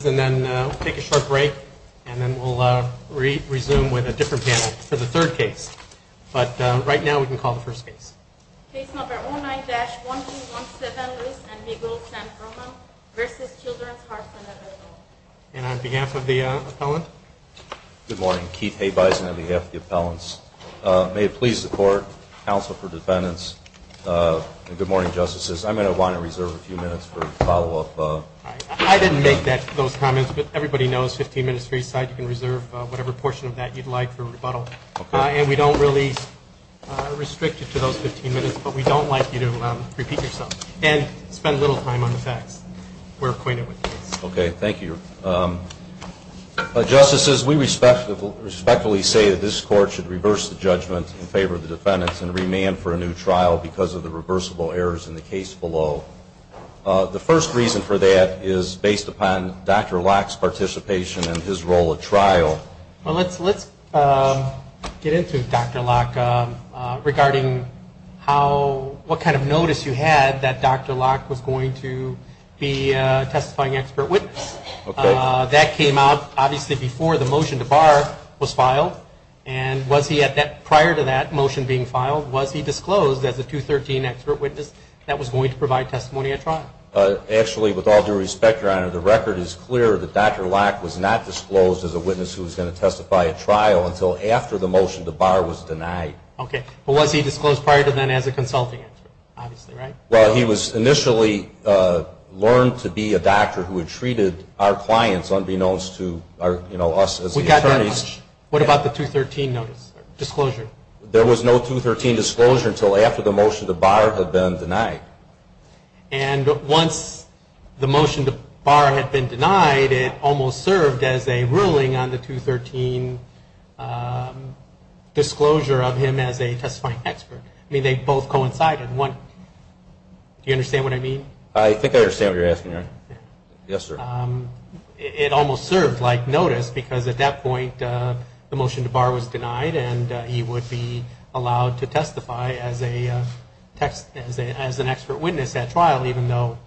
Good morning. Keith Habeisen on behalf of the appellants. May it please the court, counsel for defendants, and good morning, justices. I'm going to want to reserve a few minutes for follow-up. I didn't make those comments, but everybody knows 15 minutes for each side. You can reserve whatever portion of that you'd like for rebuttal. Okay. And we don't really restrict you to those 15 minutes, but we don't like you to repeat yourself and spend little time on the facts. We're acquainted with this. Okay. Thank you. Justices, we respectfully say that this court should reverse the judgment in favor of the defendants and remand for a new trial because of the reversible errors in the case below. The first reason for that is based upon Dr. Locke's participation and his role at trial. Well, let's get into Dr. Locke regarding how, what kind of notice you had that Dr. Locke was going to be a testifying expert witness. Okay. That came out, obviously, before the motion to bar was filed. And was he at that, prior to that motion being filed, was he disclosed as a 213 expert witness that was going to provide testimony at trial? Actually, with all due respect, Your Honor, the record is clear that Dr. Locke was not disclosed as a witness who was going to testify at trial until after the motion to bar was denied. Okay. But was he disclosed prior to then as a consulting expert? Obviously, right? Well, he was initially learned to be a doctor who had treated our clients unbeknownst to, you know, us as the attorneys. We got that. What about the 213 notice, disclosure? There was no 213 disclosure until after the motion to bar had been denied. And once the motion to bar had been denied, it almost served as a ruling on the 213 disclosure of him as a testifying expert. I mean, they both coincided. Do you understand what I mean? I think I understand what you're asking, Your Honor. Yes, sir. It almost served like notice because at that point, the motion to bar was denied and he would be allowed to testify as an expert witness at trial even though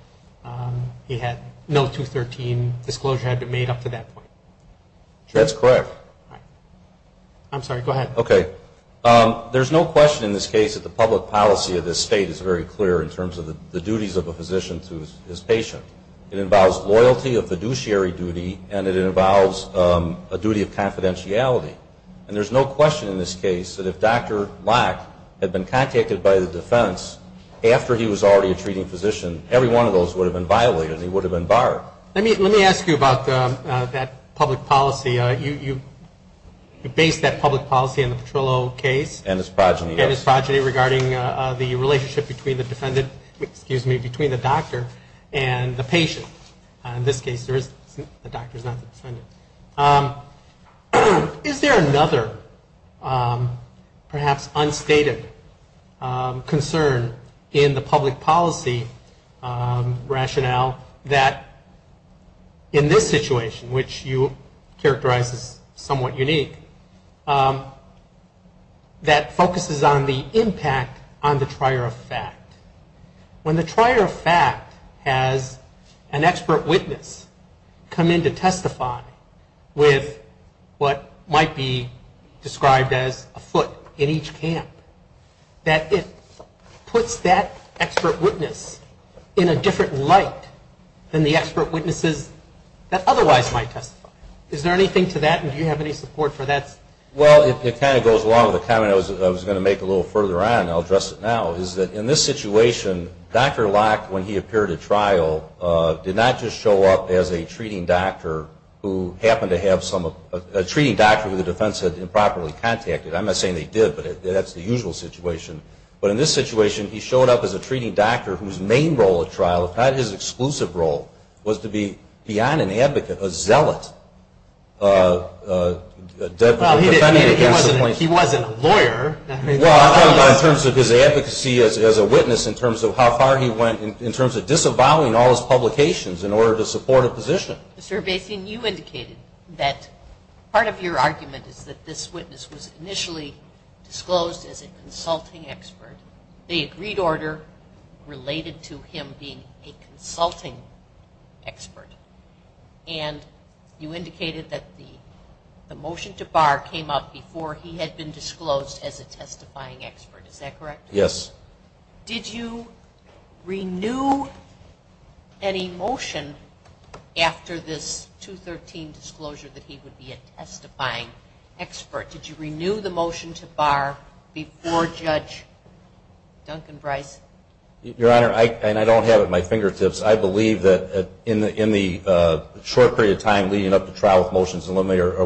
he had no 213 disclosure had been made up to that point. That's correct. I'm sorry, go ahead. Okay. There's no question in this case that the public policy of this State is very clear in terms of the duties of a physician to his patient. It involves loyalty of fiduciary duty and it involves a duty of confidentiality. And there's no question in this case that if Dr. Locke had been contacted by the defense after he was already a treating physician, every one of those would have been violated and he would have been barred. Let me ask you about that public policy. You base that public policy on the Petrillo case. And his progeny. And between the doctor and the patient. In this case, the doctor's not the defendant. Is there another perhaps unstated concern in the public policy rationale that in this situation, which you characterize as somewhat unique, that focuses on the impact on the trier of fact? When the trier of fact has an expert witness come in to testify with what might be described as a foot in each camp, that it puts that expert witness in a different light than the expert witnesses that otherwise might testify. Is there anything to that and do you have any support for that? Well, it kind of goes along with the comment I was going to make a little further on, and I'll address it now, is that in this situation, Dr. Locke, when he appeared at trial, did not just show up as a treating doctor who happened to have some, a treating doctor who the defense had improperly contacted. I'm not saying they did, but that's the usual situation. But in this situation, he showed up as a treating doctor whose main role at trial, if not his exclusive role, was to be beyond an advocate, a zealot. He wasn't a lawyer. Well, I'm talking about in terms of his advocacy as a witness, in terms of how far he went, in terms of disavowing all his publications in order to support a position. Mr. Basin, you indicated that part of your argument is that this witness was initially disclosed as a consulting expert. The agreed order related to him being a consulting expert. And you indicated that the motion to bar came up before he had been disclosed as a testifying expert. Is that correct? Yes. Did you renew any motion after this 213 disclosure that he would be a testifying expert? Did you renew the motion to bar before Judge Duncan was released? Your Honor, and I don't have it at my fingertips, I believe that in the short period of time leading up to trial with motions and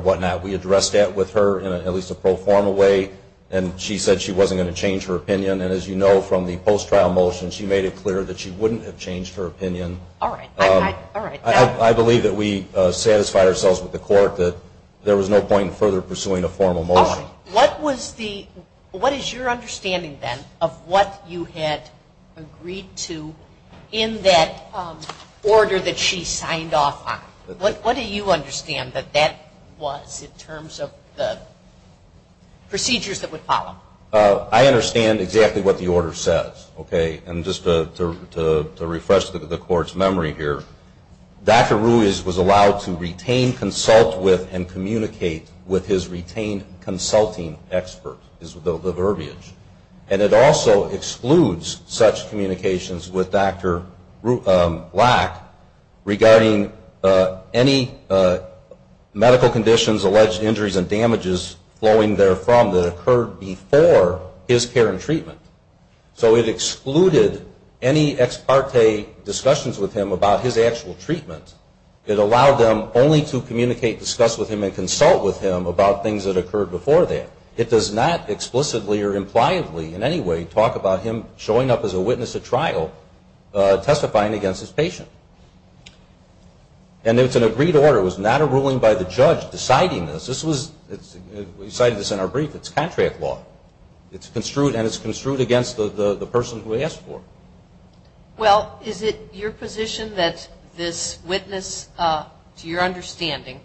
what not, we addressed that with her in at least a proformal way. And she said she wasn't going to change her opinion. And as you know from the post-trial motion, she made it clear that she wouldn't have changed her opinion. All right. I believe that we satisfied ourselves with the court that there was no point in further pursuing a formal motion. All right. What was the, what is your understanding of the order that agreed to, in that order that she signed off on? What do you understand that that was in terms of the procedures that would follow? I understand exactly what the order says. Okay. And just to refresh the court's memory here, Dr. Ruiz was allowed to retain, consult with, and communicate with his retained consulting expert is the person who used such communications with Dr. Black regarding any medical conditions, alleged injuries, and damages flowing therefrom that occurred before his care and treatment. So it excluded any ex parte discussions with him about his actual treatment. It allowed them only to communicate, discuss with him, and consult with him about things that occurred before that. It does not explicitly or impliably in any way talk about him showing up as a witness at trial testifying against his patient. And it's an agreed order. It was not a ruling by the judge deciding this. This was, we cited this in our brief, it's contract law. It's construed and it's construed against the person who asked for it. Well, is it your position that this witness, to your understanding,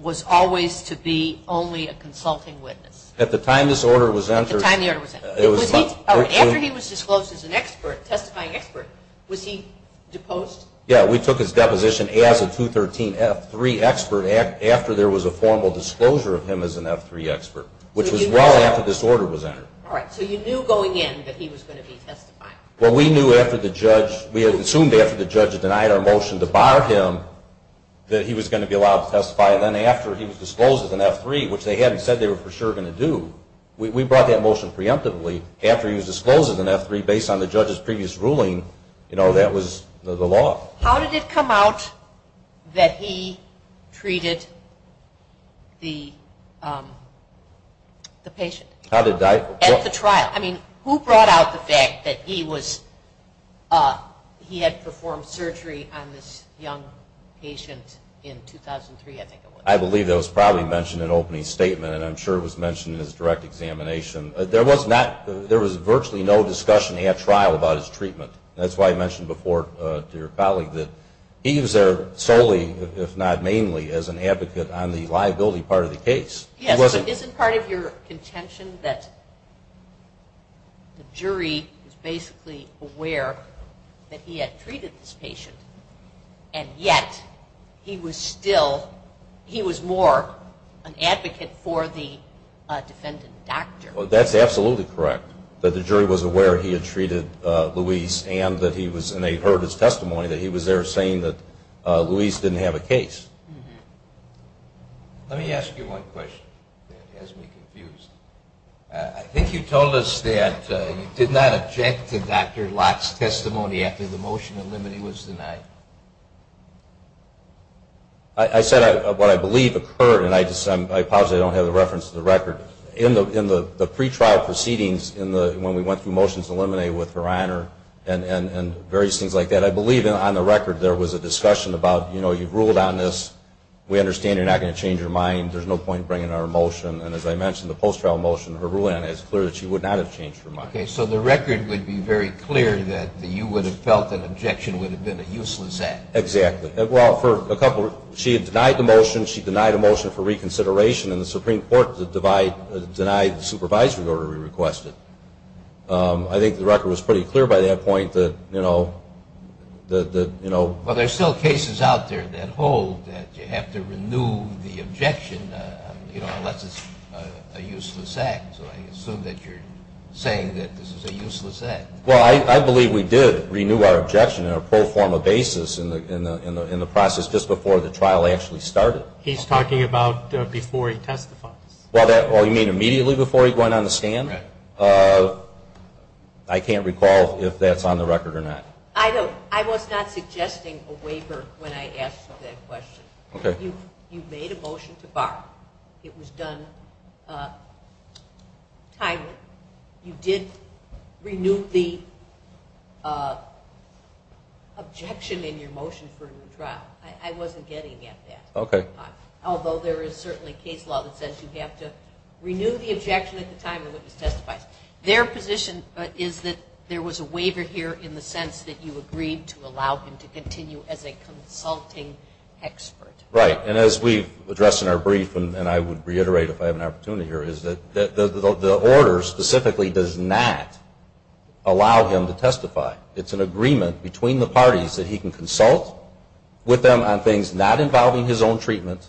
was always to be only a consulting witness? At the time this order was entered. At the time the order was entered. After he was disclosed as an expert, testifying expert, was he deposed? Yeah, we took his deposition as a 213F3 expert after there was a formal disclosure of him as an F3 expert, which was well after this order was entered. All right, so you knew going in that he was going to be testifying. Well, we knew after the judge, we assumed after the judge denied our motion to bar him that he was going to be allowed to testify. And then after he was disclosed as an F3, which they hadn't said they were for sure going to do, we brought that motion preemptively after he was disclosed as an F3 based on the judge's previous ruling, you know, that was the law. How did it come out that he treated the patient? How did I? At the trial. I mean, who brought out the fact that he was, he had performed surgery on this young patient in 2003, I think it was. I believe it was probably mentioned in an opening statement and I'm sure it was mentioned in his direct examination. There was not, there was virtually no discussion at trial about his treatment. That's why I mentioned before to your colleague that he was there solely, if not mainly, as an advocate on the liability part of the case. Yes, but isn't part of your contention that the jury was basically aware that he had treated this patient and yet he was still, he was more an advocate for the defendant doctor? That's absolutely correct. That the jury was aware he had treated Luis and that he was, and they heard his testimony, that he was there saying that Luis didn't have a case. Let me ask you one question that has me confused. I think you told us that you did not object to Dr. Locke's testimony after the motion to eliminate was denied. I said what I believe occurred and I just, I don't have a reference to the record. In the pretrial proceedings when we went through motions to eliminate with Verander and various things like that, I believe on the record there was a discussion about, you know, you ruled on this, we understand you're not going to change your mind, there's no point in bringing our motion, and as I mentioned the post-trial motion, her ruling on it is clear that she would not have changed her mind. Okay, so the record would be very clear that you would have felt an objection would have been a useless act. Exactly. Well, for a couple, she had denied the motion, she denied a motion for reconsideration and the Supreme Court denied the supervisory order we requested. I think the record was pretty clear by that point that, you know, that, you know. Well, there's still cases out there that hold that you have to renew the objection, you know, unless it's a useless act, so I assume that you're saying that this is a useless act. Well, I believe we did renew our objection on a pro forma basis in the process just before the trial actually started. He's talking about before he testifies. Well, you mean immediately before he went on the stand? Right. I can't recall if that's on the record or not. I was not suggesting a waiver when I asked that question. Okay. You made a motion to borrow. It was done timely. You did renew the objection in your motion for a new trial. I wasn't getting at that. Okay. Although there is certainly case law that says you have to renew the objection at the time the witness testifies. Their position is that there was a waiver here in the sense that you agreed to allow him to continue as a consulting expert. Right. And as we've addressed in our brief, and I would reiterate if I have an opportunity here, is that the order specifically does not allow him to testify. It's an agreement between the parties that he can consult with them on things not involving his own treatment,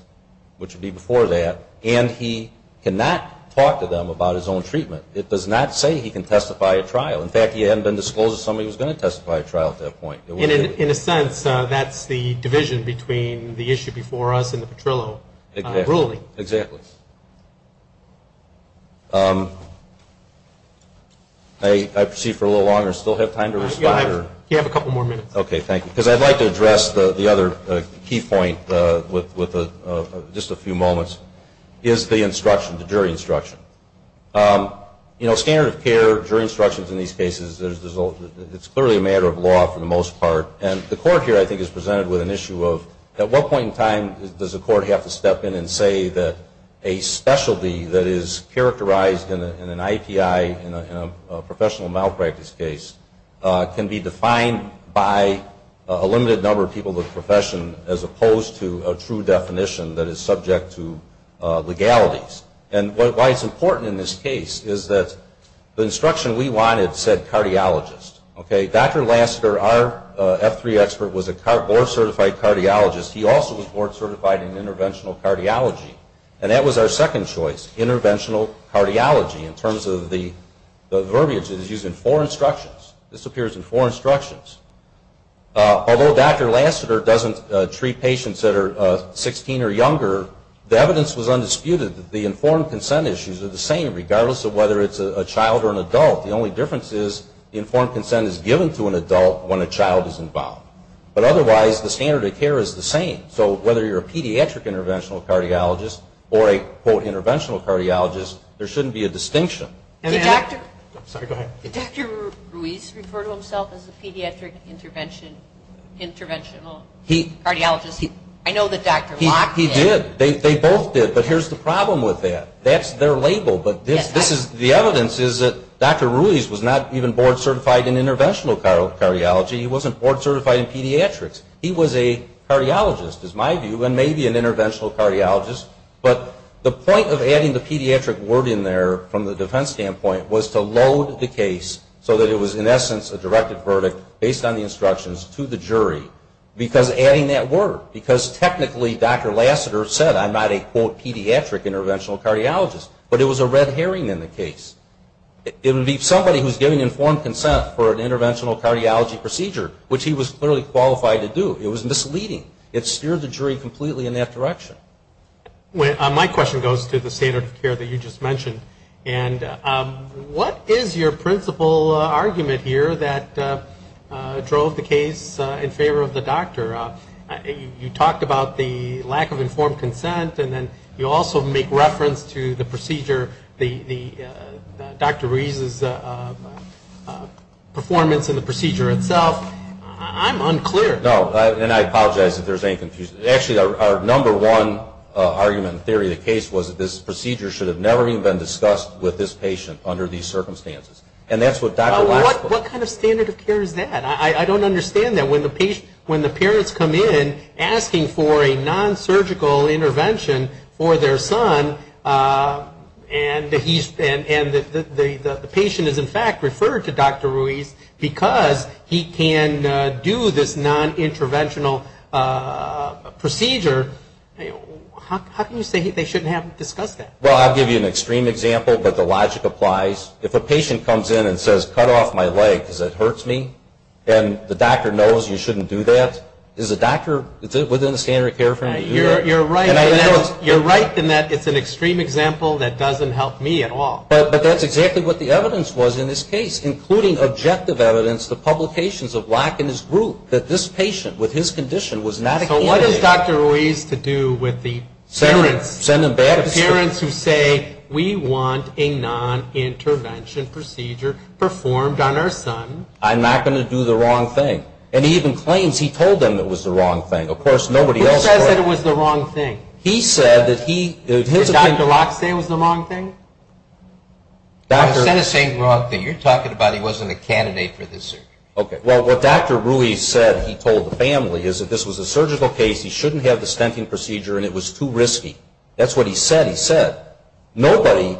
which would be before that, and he cannot talk to them about his own treatment. It does not say he can testify at trial. In fact, he was going to testify at trial at that point. In a sense, that's the division between the issue before us and the Petrillo ruling. Exactly. I see for a little longer. Still have time to respond? You have a couple more minutes. Okay. Thank you. Because I'd like to address the other key point with just a few moments is the instruction, the jury instruction. You know, standard of care, jury instructions in these cases, it's clearly a matter of law for the most part. And the court here I think is presented with an issue of at what point in time does the court have to step in and say that a specialty that is characterized in an IPI, in a professional malpractice case, can be defined by a limited number of people in the profession as opposed to a true definition that is subject to legalities. And why it's important in this case is that the instruction we wanted said cardiologist. Okay. Dr. Lasseter, our F3 expert, was a board certified cardiologist. He also was board certified in interventional cardiology. And that was our second choice, interventional cardiology in terms of the verbiage that is used in four instructions. This appears in four instructions. Although Dr. Lasseter doesn't treat patients that are 16 or younger, the evidence was undisputed that the informed consent issues are the same regardless of whether it's a child or an adult. The only difference is the informed consent is given to an adult when a child is involved. But otherwise the standard of care is the same. So whether you're a pediatric interventional cardiologist or a, quote, interventional cardiologist, there shouldn't be a distinction. Did Dr. Ruiz refer to himself as a pediatric interventional cardiologist? I know that Dr. Ruiz was not even board certified in interventional cardiology. He wasn't board certified in pediatrics. He was a cardiologist is my view and maybe an interventional cardiologist. But the point of adding the pediatric word in there from the defense standpoint was to load the case so that it was in essence a directed verdict based on the instructions to the jury because adding that word, because technically Dr. Lasseter said I'm not a, quote, pediatric interventional cardiologist, but it was a red herring in the case. It would be somebody who's giving informed consent for an interventional cardiology procedure, which he was clearly qualified to do. It was misleading. It steered the jury completely in that direction. My question goes to the standard of care that you just mentioned. And what is your principal argument here that drove the case in favor of the doctor? You talked about the lack of informed consent and then you also make reference to the procedure, Dr. Ruiz's performance in the procedure itself. I'm unclear. No, and I apologize if there's any confusion. Actually, our number one argument in theory of the case was that this procedure should have never even been discussed with this patient under these circumstances. And that's what Dr. Lasseter What kind of standard of care is that? I don't understand that. When the parents come in asking for a non-surgical intervention for their son and the patient is in fact referred to Dr. Ruiz because he can do this non-interventional procedure, how can you say they shouldn't have discussed that? Well, I'll give you an extreme example, but the logic applies. If a patient comes in and says, cut off my leg because it hurts me, and the doctor knows you shouldn't do that, is the doctor within the standard of care for him to do that? You're right in that it's an extreme example that doesn't help me at all. But that's exactly what the evidence was in this case, including objective evidence, the publications of lack in his group, that this patient with his condition was not a candidate. So what does Dr. Ruiz have to do with the parents who say we want a non-intervention procedure performed on our son? I'm not going to do the wrong thing. And he even claims he told them it was the wrong thing. Who says it was the wrong thing? He said that he Did Dr. Locke say it was the wrong thing? I'm not saying it was the wrong thing. You're talking about he wasn't a candidate for this surgery. Okay. Well, what Dr. Ruiz said he told the family is that this was a surgical case, he shouldn't have the stenting procedure, and it was too risky. That's what he said he said. Nobody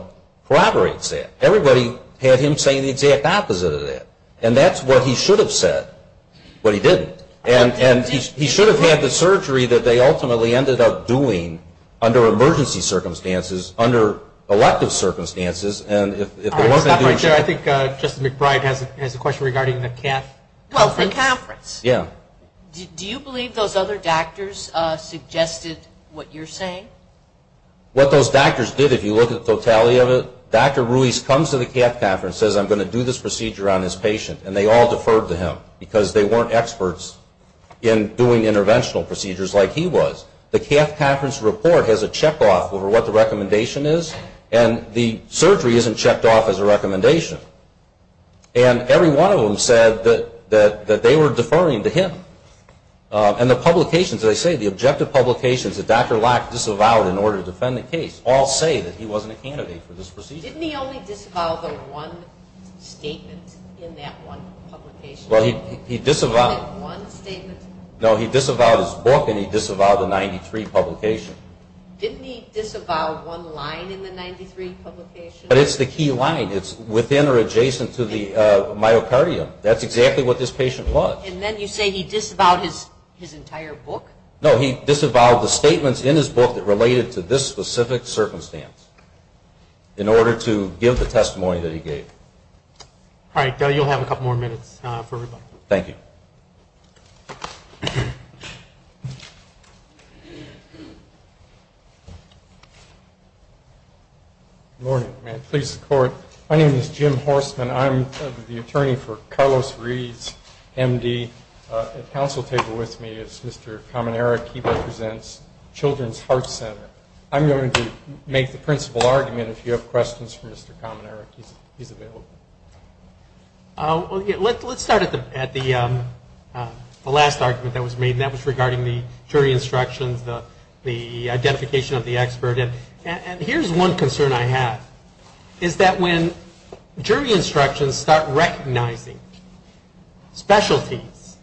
corroborates that. Everybody had him saying the exact opposite of that. And that's what he should have said. But he didn't. And he should have had the surgery that they ultimately ended up doing under emergency circumstances, under elective circumstances. I think Justice McBride has a question regarding the CAF conference. Well, the conference. Yeah. Do you believe those other doctors suggested what you're saying? What those doctors did, if you look at the totality of it, Dr. Ruiz comes to the CAF conference, says I'm going to do this procedure on this patient, and they all deferred to him because they weren't experts in doing interventional procedures like he was. The surgery isn't checked off as a recommendation. And every one of them said that they were deferring to him. And the publications, as I say, the objective publications that Dr. Locke disavowed in order to defend the case all say that he wasn't a candidate for this procedure. Didn't he only disavow the one statement in that one publication? Well, he disavowed. In that one statement? No, he disavowed his book and he disavowed the 93 publication. Didn't he disavow one line in the 93 publication? But it's the key line. It's within or adjacent to the myocardium. That's exactly what this patient was. And then you say he disavowed his entire book? No, he disavowed the statements in his book that related to this specific circumstance in order to give the testimony that he gave. All right. You'll have a couple more minutes for everybody. Thank you. Good morning. May it please the Court. My name is Jim Horstman. I'm the attorney for Carlos Reeds, MD. At the council table with me is Mr. Kamanerik. He represents Children's Heart Center. I'm going to make the principal argument. If you have questions for Mr. Kamanerik, he's available. Let's start at the last argument that was made, and that was regarding the jury instructions, the identification of the expert. And here's one concern I have, is that when jury instructions start recognizing specialties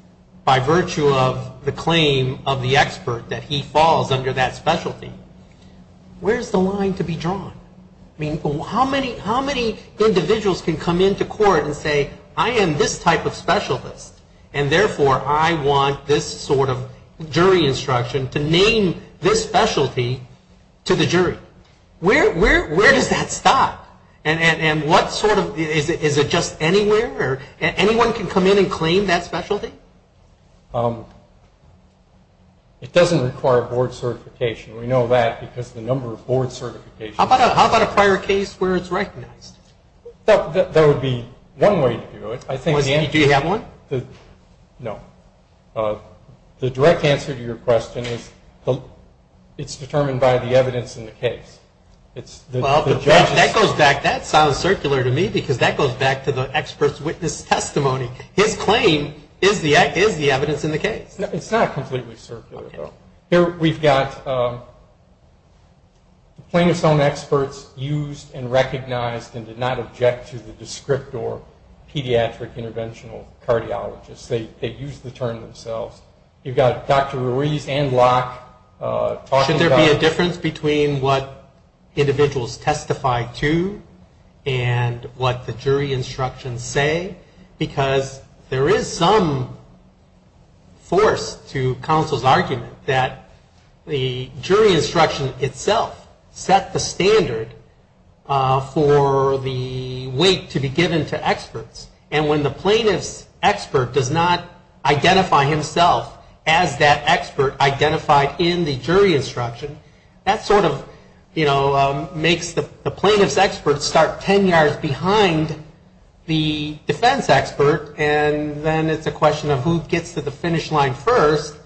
by virtue of the claim of the expert that he falls under that specialty, where's the line to be drawn? I mean, how many individuals can come into court and say, I am this type of specialist, and therefore I want this sort of jury instruction to name this specialty to the jury? Where does that stop? And what sort of, is it just anywhere? Anyone can come in and claim that specialty? It doesn't require board certification. We know that because the number of board certifications How about a prior case where it's recognized? That would be one way to do it. Do you have one? No. The direct answer to your question is, it's determined by the evidence in the case. That sounds circular to me, because that goes back to the expert's witness testimony. His claim is the evidence in the case. It's not completely circular, though. Here we've got plaintiff's own experts used and recognized and did not object to the descript or pediatric interventional cardiologists. They used the term themselves. You've got Dr. Ruiz and Locke talking about Should there be a difference between what individuals testify to and what the jury instructions say? Because there is some force to counsel's argument that the jury instruction itself set the standard for the weight to be given to experts. And when the plaintiff's expert does not identify himself as that expert identified in the jury instruction, that sort of makes the plaintiff's expert start ten yards behind the defense expert. And then it's a question of who gets to the finish line first.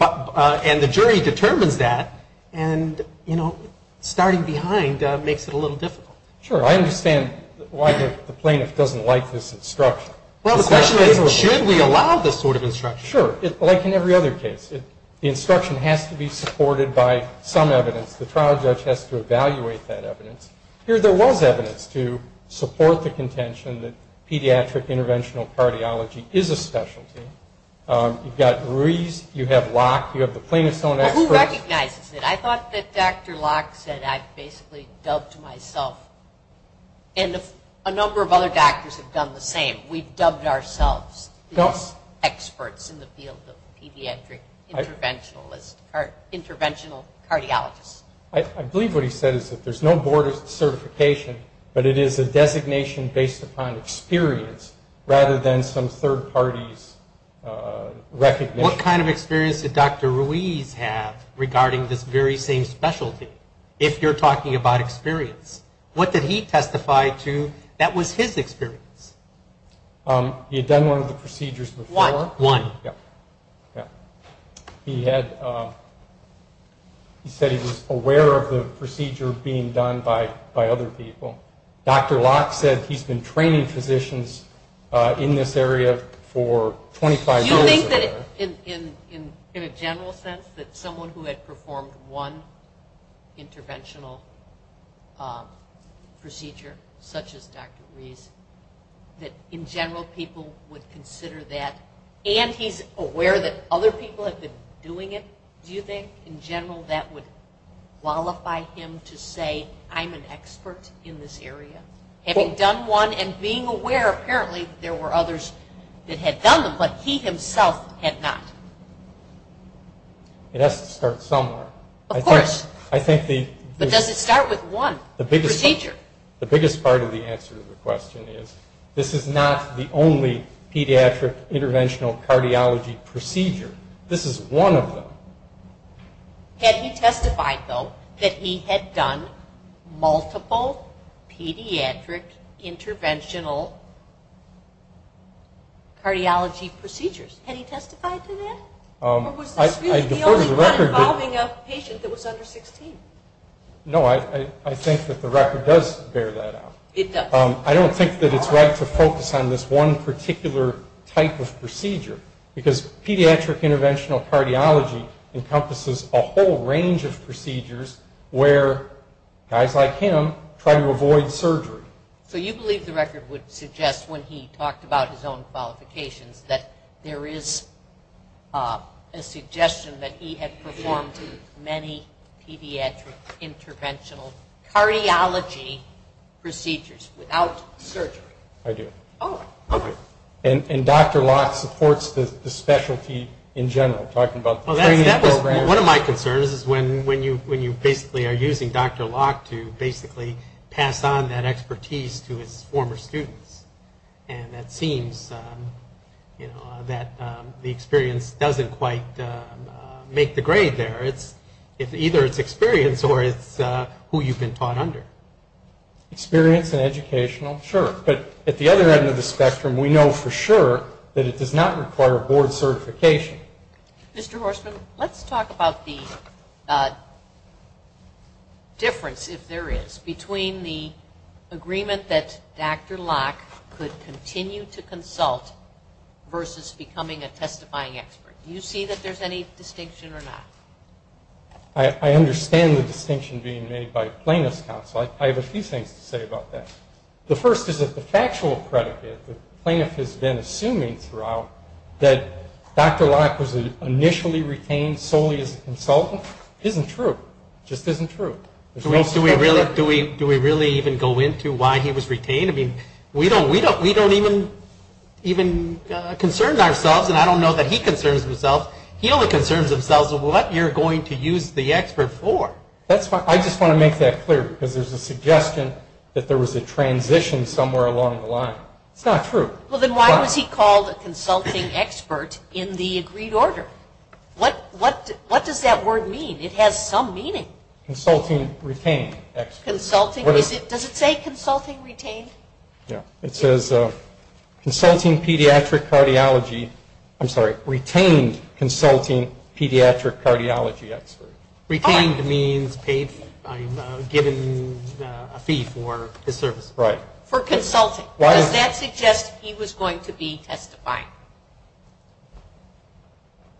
And the jury determines that. And, you know, starting behind makes it a little difficult. Sure. I understand why the plaintiff doesn't like this instruction. Well, the question is, should we allow this sort of instruction? Sure. Like in every other case, the instruction has to be supported by some evidence. The trial judge has to evaluate that evidence. Here there was evidence to support the contention that pediatric interventional cardiology is a specialty. You've got Ruiz. You have Locke. You have the plaintiff's own experts. Who recognizes it? I thought that Dr. Locke said I basically dubbed myself. And a number of other doctors have done the same. We've dubbed ourselves as experts in the field of pediatric interventional cardiologists. I believe what he said is that there's no board of certification, but it is a designation based upon experience rather than some third party's recognition. What kind of experience did Dr. Ruiz have regarding this very same specialty, if you're talking about experience? What did he testify to that was his experience? He had done one of the procedures before. One. Yeah. He said he was aware of the procedure being done by other people. Dr. Locke said he's been training physicians in this area for 25 years. Do you think that in a general sense that someone who had performed one interventional procedure, such as Dr. Ruiz, that in general people would consider that? And he's aware that other people have been doing it? Do you think in general that would qualify him to say I'm an expert in this area? Having done one and being aware, apparently there were others that had done them, but he himself had not. It has to start somewhere. Of course. But does it start with one procedure? The biggest part of the answer to the question is, this is not the only pediatric interventional cardiology procedure. This is one of them. Had he testified, though, that he had done multiple pediatric interventional cardiology procedures? Had he testified to that? Or was this really the only one involving a patient that was under 16? No, I think that the record does bear that out. It does. I don't think that it's right to focus on this one particular type of procedure, because pediatric interventional cardiology encompasses a whole range of procedures where guys like him try to avoid surgery. So you believe the record would suggest, when he talked about his own qualifications, that there is a suggestion that he had performed many pediatric interventional cardiology procedures without surgery? I do. Oh, okay. And Dr. Locke supports the specialty in general, talking about the training program. Well, that was one of my concerns, is when you basically are using Dr. Locke to basically pass on that expertise to his former students. And that seems that the experience doesn't quite make the grade there. Either it's experience or it's who you've been taught under. Experience and educational, sure. But at the other end of the spectrum, we know for sure that it does not require board certification. Mr. Horstman, let's talk about the difference, if there is, between the agreement that Dr. Locke could continue to consult versus becoming a testifying expert. Do you see that there's any distinction or not? I understand the distinction being made by plaintiff's counsel. I have a few things to say about that. The first is that the factual predicate that the plaintiff has been assuming throughout, that Dr. Locke was initially retained solely as a consultant, isn't true. It just isn't true. Do we really even go into why he was retained? I mean, we don't even concern ourselves, and I don't know that he concerns himself. He only concerns himself with what you're going to use the expert for. I just want to make that clear, because there's a suggestion that there was a transition somewhere along the line. It's not true. Well, then why was he called a consulting expert in the agreed order? What does that word mean? It has some meaning. Consulting retained expert. Does it say consulting retained? Yeah. It says, consulting pediatric cardiology, I'm sorry, retained consulting pediatric cardiology expert. Retained means paid, given a fee for his service. Right. For consulting. Does that suggest he was going to be testifying?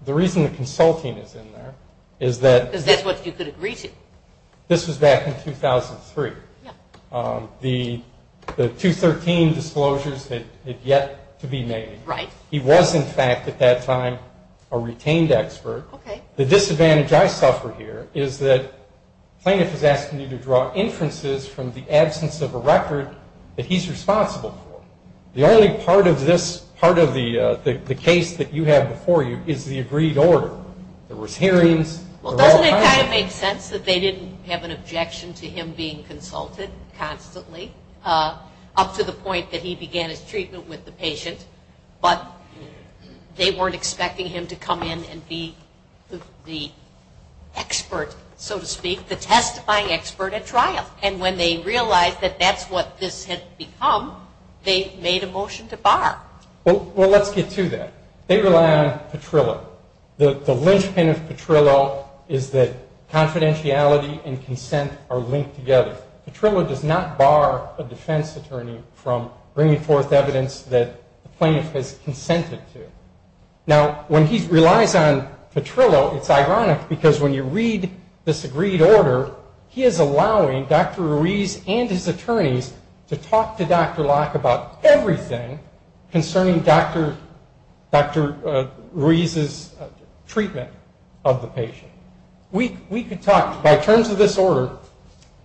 The reason the consulting is in there is that... Because that's what you could agree to. This was back in 2003. Yeah. The 213 disclosures had yet to be made. Right. He was, in fact, at that time, a retained expert. Okay. The disadvantage I suffer here is that plaintiff is asking you to draw inferences from the absence of a record that he's responsible for. The only part of this, part of the case that you have before you is the agreed order. There was hearings. Doesn't it kind of make sense that they didn't have an objection to him being consulted constantly, up to the point that he began his treatment with the patient, but they weren't expecting him to come in and be the expert, so to speak, the testifying expert at trial. And when they realized that that's what this had become, they made a motion to bar. Well, let's get to that. They rely on Petrillo. The linchpin of Petrillo is that confidentiality and consent are linked together. Petrillo does not bar a defense attorney from bringing forth evidence that the plaintiff has consented to. Now, when he relies on Petrillo, it's ironic, because when you read this agreed order, he is allowing Dr. Ruiz and his attorneys to talk to Dr. Locke about everything concerning Dr. Ruiz's treatment of the patient. We could talk, by terms of this order,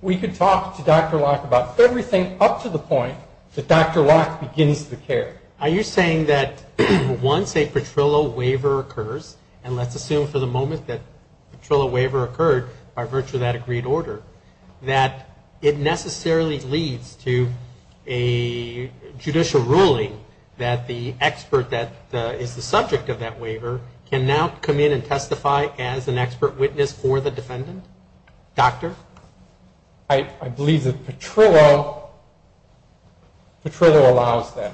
we could talk to Dr. Locke about everything up to the point that Dr. Locke begins the care. Are you saying that once a Petrillo waiver occurs, and let's assume for the moment that Petrillo waiver occurred by virtue of that agreed order, that it necessarily leads to a judicial ruling that the expert that is the subject of that waiver can now come in and testify as an expert witness for the defendant? Doctor? I believe that Petrillo allows that.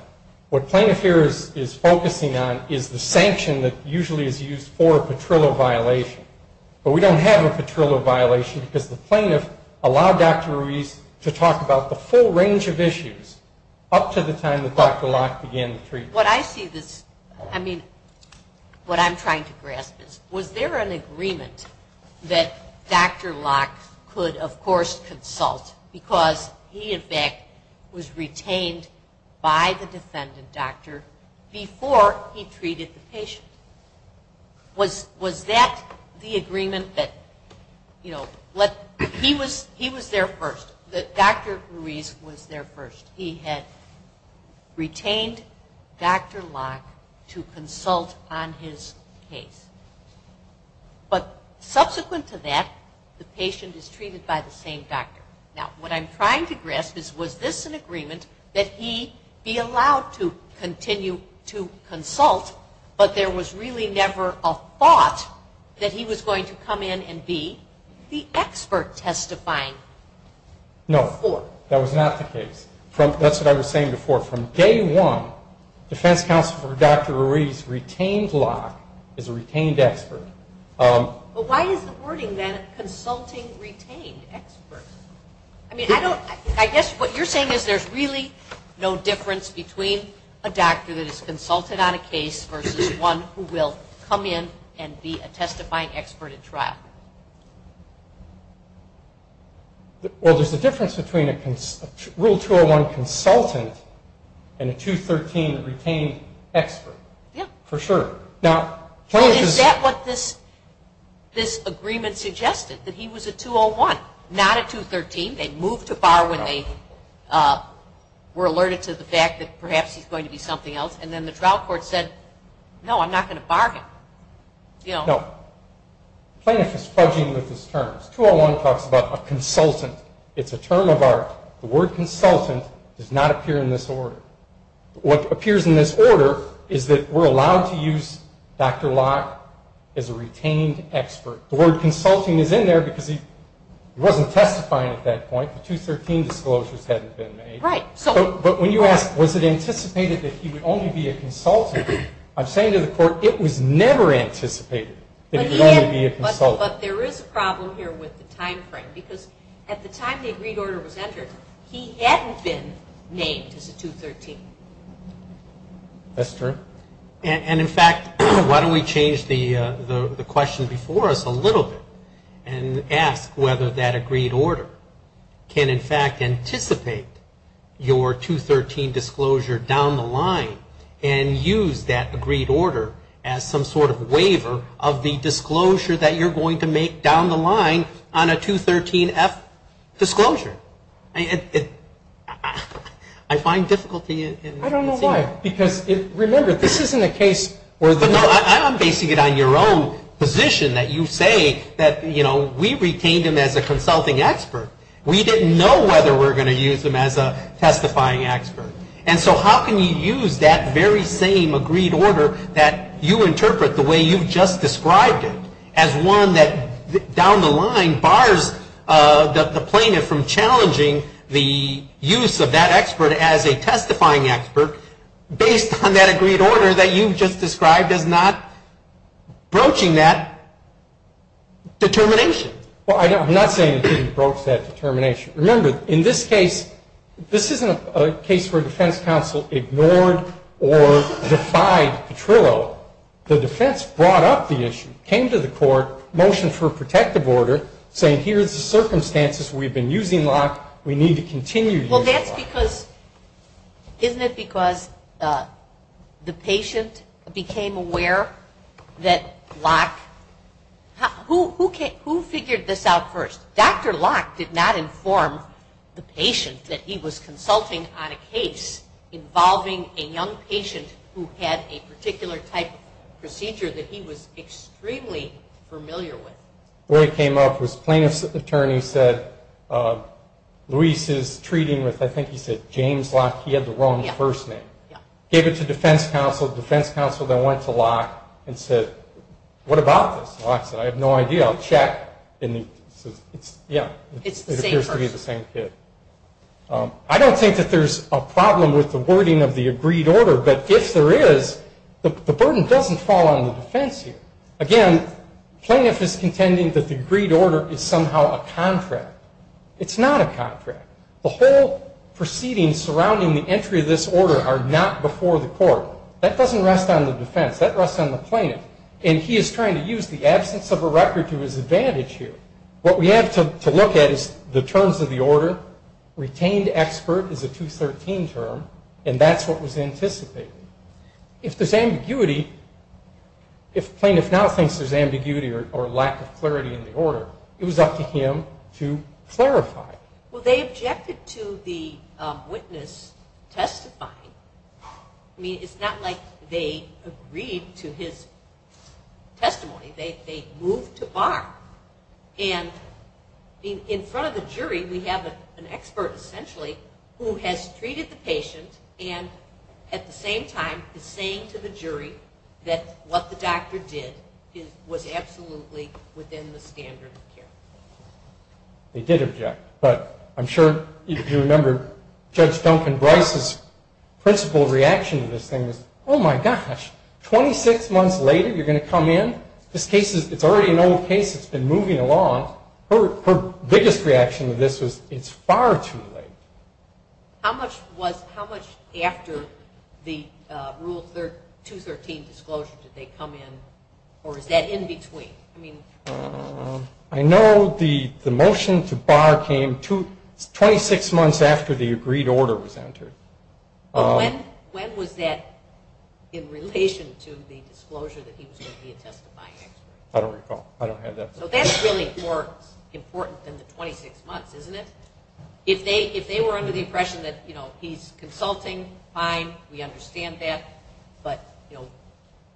What plaintiff here is focusing on is the sanction that usually is used for a Petrillo violation, but we don't have a Petrillo violation because the plaintiff allowed Dr. Ruiz to talk about the full range of issues up to the time that Dr. Locke began the treatment. What I see this, I mean, what I'm trying to grasp is, was there an agreement that Dr. Locke could, of course, consult, because he, in fact, was retained by the defendant doctor before he treated the patient? Was that the agreement that, you know, he was there first, that Dr. Ruiz was there first? He had retained Dr. Locke to consult on his case. But subsequent to that, the patient is treated by the same doctor. Now, what I'm trying to grasp is, was this an agreement that he be allowed to continue to consult, but there was really never a thought that he was going to come in and be the expert testifying? No, that was not the case. That's what I was saying before. From day one, defense counsel for Dr. Ruiz retained Locke as a retained expert. But why is the wording, then, consulting retained expert? I mean, I don't, I guess what you're saying is there's really no difference between a doctor that is consulted on a case versus one who will come in and be a testifying expert at trial. Well, there's a difference between a Rule 201 consultant and a 213 retained expert. Yeah. For sure. Is that what this agreement suggested, that he was a 201, not a 213? They moved to bar when they were alerted to the fact that perhaps he's going to be something else, and then the trial court said, no, I'm not going to bar him. No. The plaintiff is fudging with his terms. 201 talks about a consultant. It's a term of art. The word consultant does not appear in this order. What appears in this order is that we're allowed to use Dr. Locke as a retained expert. The word consulting is in there because he wasn't testifying at that point. The 213 disclosures hadn't been made. Right. But when you ask, was it anticipated that he would only be a consultant, I'm saying to the court, it was never anticipated that he would only be a consultant. But there is a problem here with the timeframe, because at the time the agreed order was entered, he hadn't been named as a 213. That's true. And, in fact, why don't we change the question before us a little bit and ask whether that agreed order can, in fact, anticipate your 213 disclosure down the line and use that agreed order as some sort of waiver of the disclosure that you're going to make down the line on a 213F disclosure. I find difficulty in seeing that. I don't know why. Because, remember, this isn't a case where the No, I'm basing it on your own position that you say that, you know, we retained him as a consulting expert. We didn't know whether we were going to use him as a testifying expert. And so how can you use that very same agreed order that you interpret the way you've just described it as one that down the line bars the plaintiff from challenging the use of that expert as a testifying expert based on that agreed order that you've just described as not broaching that determination? Well, I'm not saying it didn't broach that determination. Remember, in this case, this isn't a case where a defense counsel ignored or defied Petrillo. The defense brought up the issue, came to the court, motioned for a protective order, saying here's the circumstances. We've been using Locke. We need to continue using Locke. Well, that's because, isn't it because the patient became aware that Locke, who figured this out first? Dr. Locke did not inform the patient that he was consulting on a case involving a young patient who had a particular type of procedure that he was extremely familiar with. Where it came up was plaintiff's attorney said Luis is treating with, I think he said James Locke. He had the wrong first name. Gave it to defense counsel. Defense counsel then went to Locke and said, what about this? Locke said, I have no idea. I'll check. And he says, yeah, it appears to be the same kid. I don't think that there's a problem with the wording of the agreed order, but if there is, the burden doesn't fall on the defense here. Again, plaintiff is contending that the agreed order is somehow a contract. It's not a contract. The whole proceedings surrounding the entry of this order are not before the court. That doesn't rest on the defense. That rests on the plaintiff, and he is trying to use the absence of a record to his advantage here. What we have to look at is the terms of the order. Retained expert is a 213 term, and that's what was anticipated. If there's ambiguity, if plaintiff now thinks there's ambiguity or lack of clarity in the order, it was up to him to clarify. Well, they objected to the witness testifying. I mean, it's not like they agreed to his testimony. They moved to bar. And in front of the jury, we have an expert, essentially, who has treated the patient and at the same time is saying to the jury that what the doctor did was absolutely within the standard of care. They did object, but I'm sure you remember Judge Duncan Bryce's principal reaction to this thing was, oh, my gosh, 26 months later, you're going to come in? This case is already an old case that's been moving along. Her biggest reaction to this was, it's far too late. How much after the Rule 213 disclosure did they come in, or is that in between? I know the motion to bar came 26 months after the agreed order was entered. But when was that in relation to the disclosure that he was going to be a testifying expert? I don't recall. I don't have that. So that's really more important than the 26 months, isn't it? If they were under the impression that, you know, he's consulting, fine, we understand that. But, you know,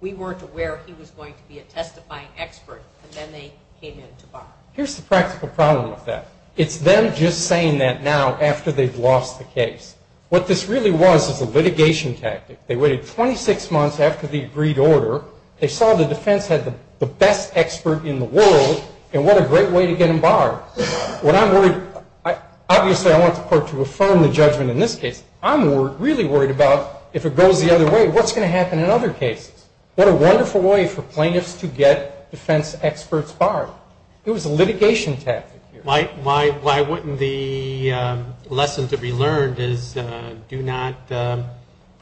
we weren't aware he was going to be a testifying expert, and then they came in to bar. Here's the practical problem with that. It's them just saying that now after they've lost the case. What this really was is a litigation tactic. They waited 26 months after the agreed order. They saw the defense had the best expert in the world, and what a great way to get him barred. What I'm worried, obviously I want the court to affirm the judgment in this case. I'm really worried about if it goes the other way, what's going to happen in other cases? What a wonderful way for plaintiffs to get defense experts barred. It was a litigation tactic. Why wouldn't the lesson to be learned is do not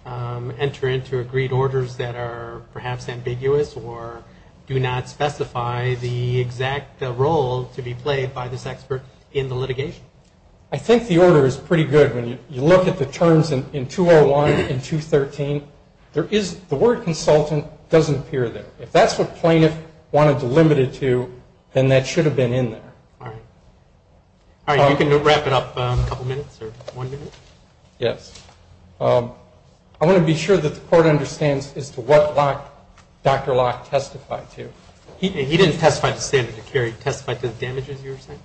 enter into agreed orders that are perhaps ambiguous or do not specify the exact role to be played by this expert in the litigation? I think the order is pretty good. When you look at the terms in 201 and 213, the word consultant doesn't appear there. If that's what plaintiff wanted to limit it to, then that should have been in there. All right. You can wrap it up in a couple minutes or one minute. Yes. I want to be sure that the court understands as to what Dr. Locke testified to. He didn't testify to standard of care. He testified to the damages you were saying?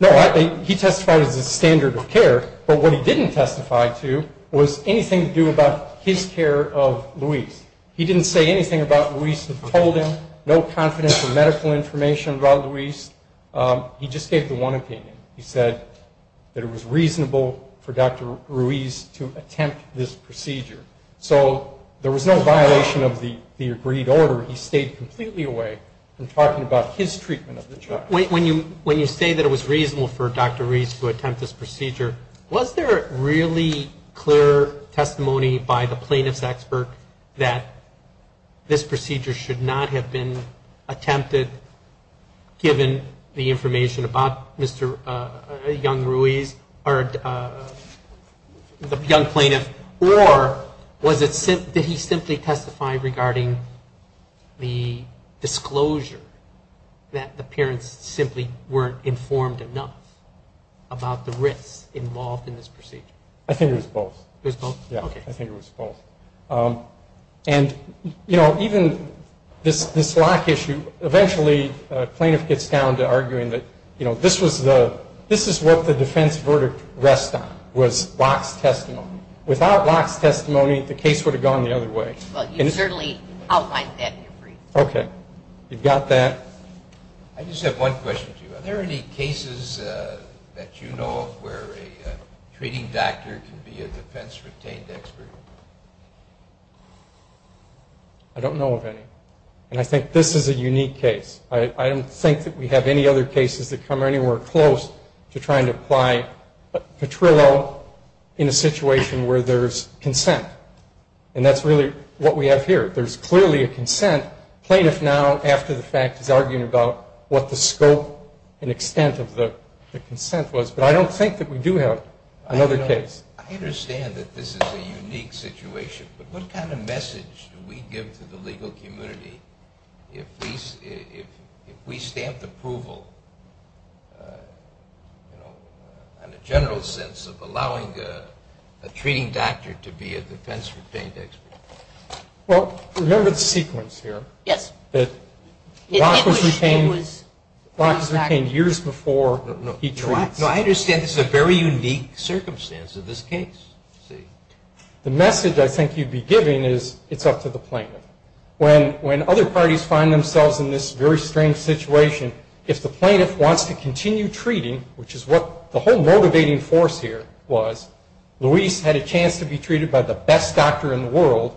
No. He testified as a standard of care, but what he didn't testify to was anything to do about his care of Luis. He didn't say anything about Luis that told him, no confidential medical information about Luis. He just gave the one opinion. He said that it was reasonable for Dr. Luis to attempt this procedure. So there was no violation of the agreed order. He stayed completely away from talking about his treatment of the child. When you say that it was reasonable for Dr. Luis to attempt this procedure, was there really clear testimony by the plaintiff's expert that this procedure should not have been attempted given the information about Mr. Young-Ruiz, or the young plaintiff, or did he simply testify regarding the disclosure that the parents simply weren't informed enough about the risks involved in this procedure? I think it was both. It was both? Yes, I think it was both. And, you know, even this Locke issue, eventually a plaintiff gets down to arguing that, you know, this is what the defense verdict rests on, was Locke's testimony. Without Locke's testimony, the case would have gone the other way. Well, you certainly outlined that in your brief. Okay. You've got that. I just have one question to you. Are there any cases that you know of where a treating doctor can be a defense-retained expert? I don't know of any, and I think this is a unique case. I don't think that we have any other cases that come anywhere close to trying to apply a patrillo in a situation where there's consent, and that's really what we have here. There's clearly a consent. Plaintiff now, after the fact, is arguing about what the scope and extent of the consent was. But I don't think that we do have another case. I understand that this is a unique situation, but what kind of message do we give to the legal community if we stamp approval, you know, and a general sense of allowing a treating doctor to be a defense-retained expert? Well, remember the sequence here. Yes. That Locke was retained years before he treated. No, I understand this is a very unique circumstance in this case. The message I think you'd be giving is it's up to the plaintiff. When other parties find themselves in this very strange situation, if the plaintiff wants to continue treating, which is what the whole motivating force here was, Luis had a chance to be treated by the best doctor in the world,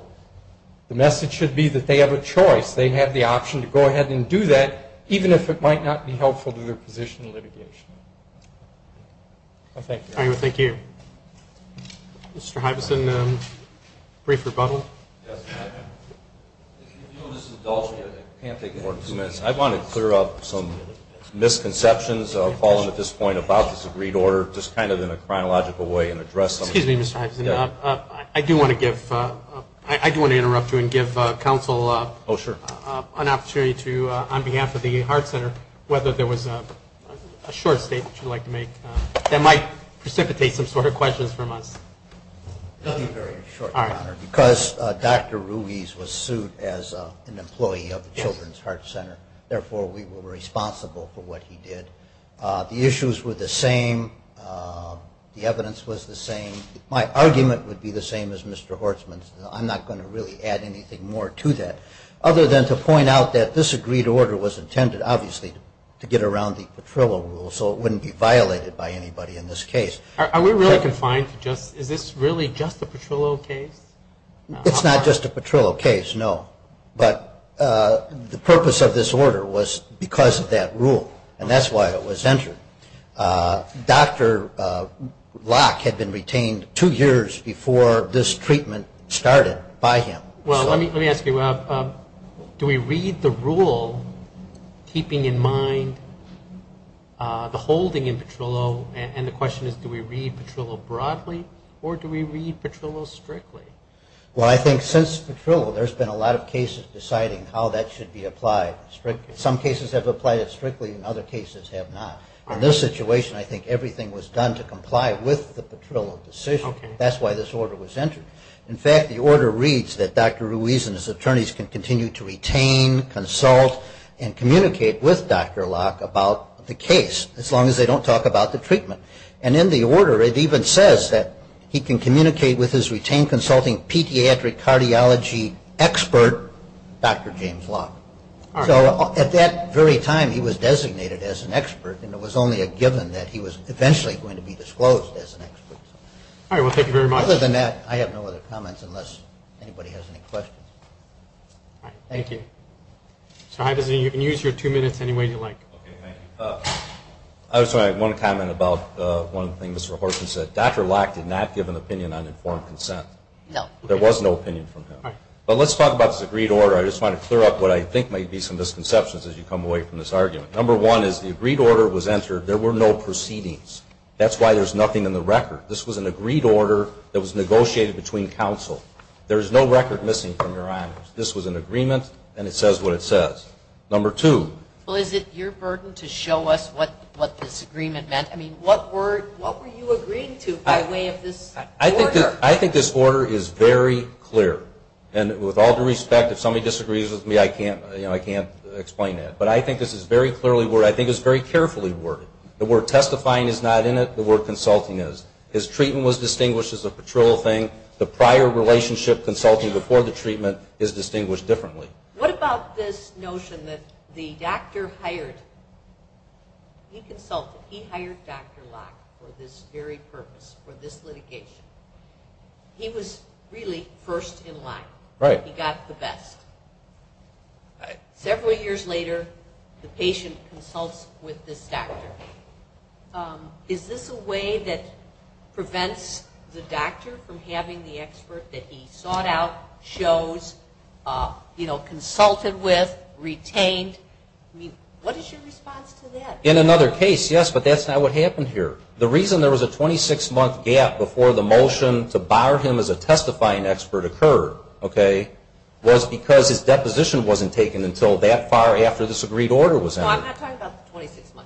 the message should be that they have a choice. They have the option to go ahead and do that, even if it might not be helpful to their position in litigation. Thank you. Thank you. Mr. Hibeson, brief rebuttal. If you'll just indulge me, I can't take more than two minutes. I want to clear up some misconceptions that have fallen at this point about this agreed order, just kind of in a chronological way and address them. Excuse me, Mr. Hibeson. I do want to interrupt you and give counsel an opportunity to, on behalf of the Heart Center, whether there was a short statement you'd like to make that might precipitate some sort of questions from us. Nothing very short, Your Honor. Because Dr. Ruiz was sued as an employee of the Children's Heart Center, therefore we were responsible for what he did. The issues were the same. The evidence was the same. My argument would be the same as Mr. Hortzman's. I'm not going to really add anything more to that, other than to point out that this agreed order was intended, obviously, to get around the patrillo rule, so it wouldn't be violated by anybody in this case. Are we really confined to just, is this really just a patrillo case? It's not just a patrillo case, no. But the purpose of this order was because of that rule, and that's why it was entered. Dr. Locke had been retained two years before this treatment started by him. Well, let me ask you, do we read the rule, keeping in mind the holding in patrillo, and the question is do we read patrillo broadly or do we read patrillo strictly? Well, I think since patrillo, there's been a lot of cases deciding how that should be applied. Some cases have applied it strictly and other cases have not. In this situation, I think everything was done to comply with the patrillo decision. That's why this order was entered. In fact, the order reads that Dr. Ruiz and his attorneys can continue to retain, consult, and communicate with Dr. Locke about the case as long as they don't talk about the treatment. And in the order, it even says that he can communicate with his retained consulting pediatric cardiology expert, Dr. James Locke. So at that very time, he was designated as an expert, and it was only a given that he was eventually going to be disclosed as an expert. All right, well, thank you very much. Other than that, I have no other comments unless anybody has any questions. All right, thank you. Okay. So you can use your two minutes any way you like. Okay, thank you. I just want to make one comment about one thing Mr. Horton said. Dr. Locke did not give an opinion on informed consent. No. There was no opinion from him. All right. But let's talk about this agreed order. I just want to clear up what I think might be some misconceptions as you come away from this argument. Number one is the agreed order was entered. There were no proceedings. That's why there's nothing in the record. This was an agreed order that was negotiated between counsel. There is no record missing from your honors. This was an agreement, and it says what it says. Number two. Well, is it your burden to show us what this agreement meant? I mean, what were you agreeing to by way of this order? I think this order is very clear. And with all due respect, if somebody disagrees with me, I can't explain that. But I think this is very clearly worded. I think it was very carefully worded. The word testifying is not in it. The word consulting is. His treatment was distinguished as a patrol thing. The prior relationship consulting before the treatment is distinguished differently. What about this notion that the doctor hired, he consulted, he hired Dr. Lack for this very purpose, for this litigation. He was really first in line. Right. He got the best. Several years later, the patient consults with this doctor. Is this a way that prevents the doctor from having the expert that he sought out, chose, you know, consulted with, retained? I mean, what is your response to that? In another case, yes, but that's not what happened here. The reason there was a 26-month gap before the motion to bar him as a testifying expert occurred, okay, was because his deposition wasn't taken until that far after this agreed order was handed. No, I'm not talking about the 26 months.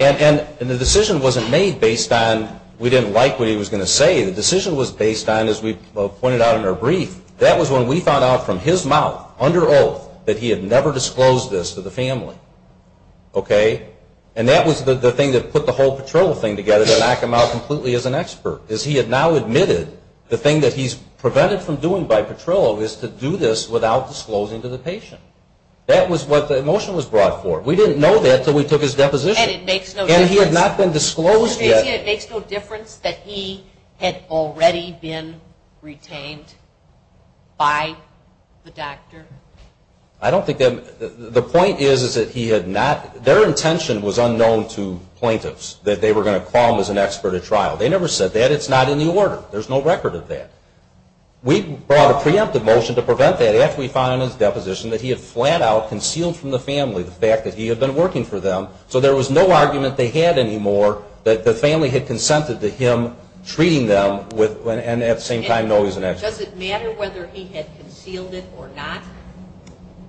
And the decision wasn't made based on we didn't like what he was going to say. The decision was based on, as we pointed out in our brief, that was when we found out from his mouth, under oath, that he had never disclosed this to the family, okay? And that was the thing that put the whole patrol thing together to knock him out completely as an expert, is he had now admitted the thing that he's prevented from doing by patrol is to do this without disclosing to the patient. That was what the motion was brought for. We didn't know that until we took his deposition. And it makes no difference. And he had not been disclosed yet. So you're saying it makes no difference that he had already been retained by the doctor? I don't think that, the point is that he had not, their intention was unknown to plaintiffs, that they were going to call him as an expert at trial. They never said that. It's not in the order. There's no record of that. We brought a preemptive motion to prevent that. We found in his deposition that he had flat out concealed from the family the fact that he had been working for them, so there was no argument they had anymore that the family had consented to him treating them, and at the same time know he's an expert. Does it matter whether he had concealed it or not?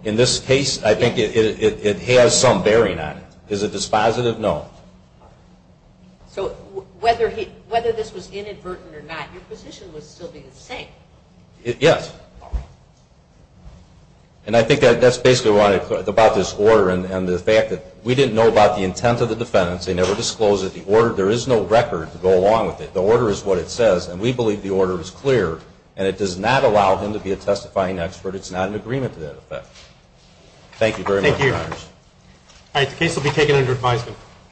In this case, I think it has some bearing on it. Is it dispositive? No. So whether this was inadvertent or not, your position would still be the same. Yes. And I think that's basically what I wanted to say about this order and the fact that we didn't know about the intent of the defendants. They never disclosed it. The order, there is no record to go along with it. The order is what it says, and we believe the order is clear, and it does not allow him to be a testifying expert. It's not an agreement to that effect. Thank you very much. Thank you. All right. The case will be taken under advisement.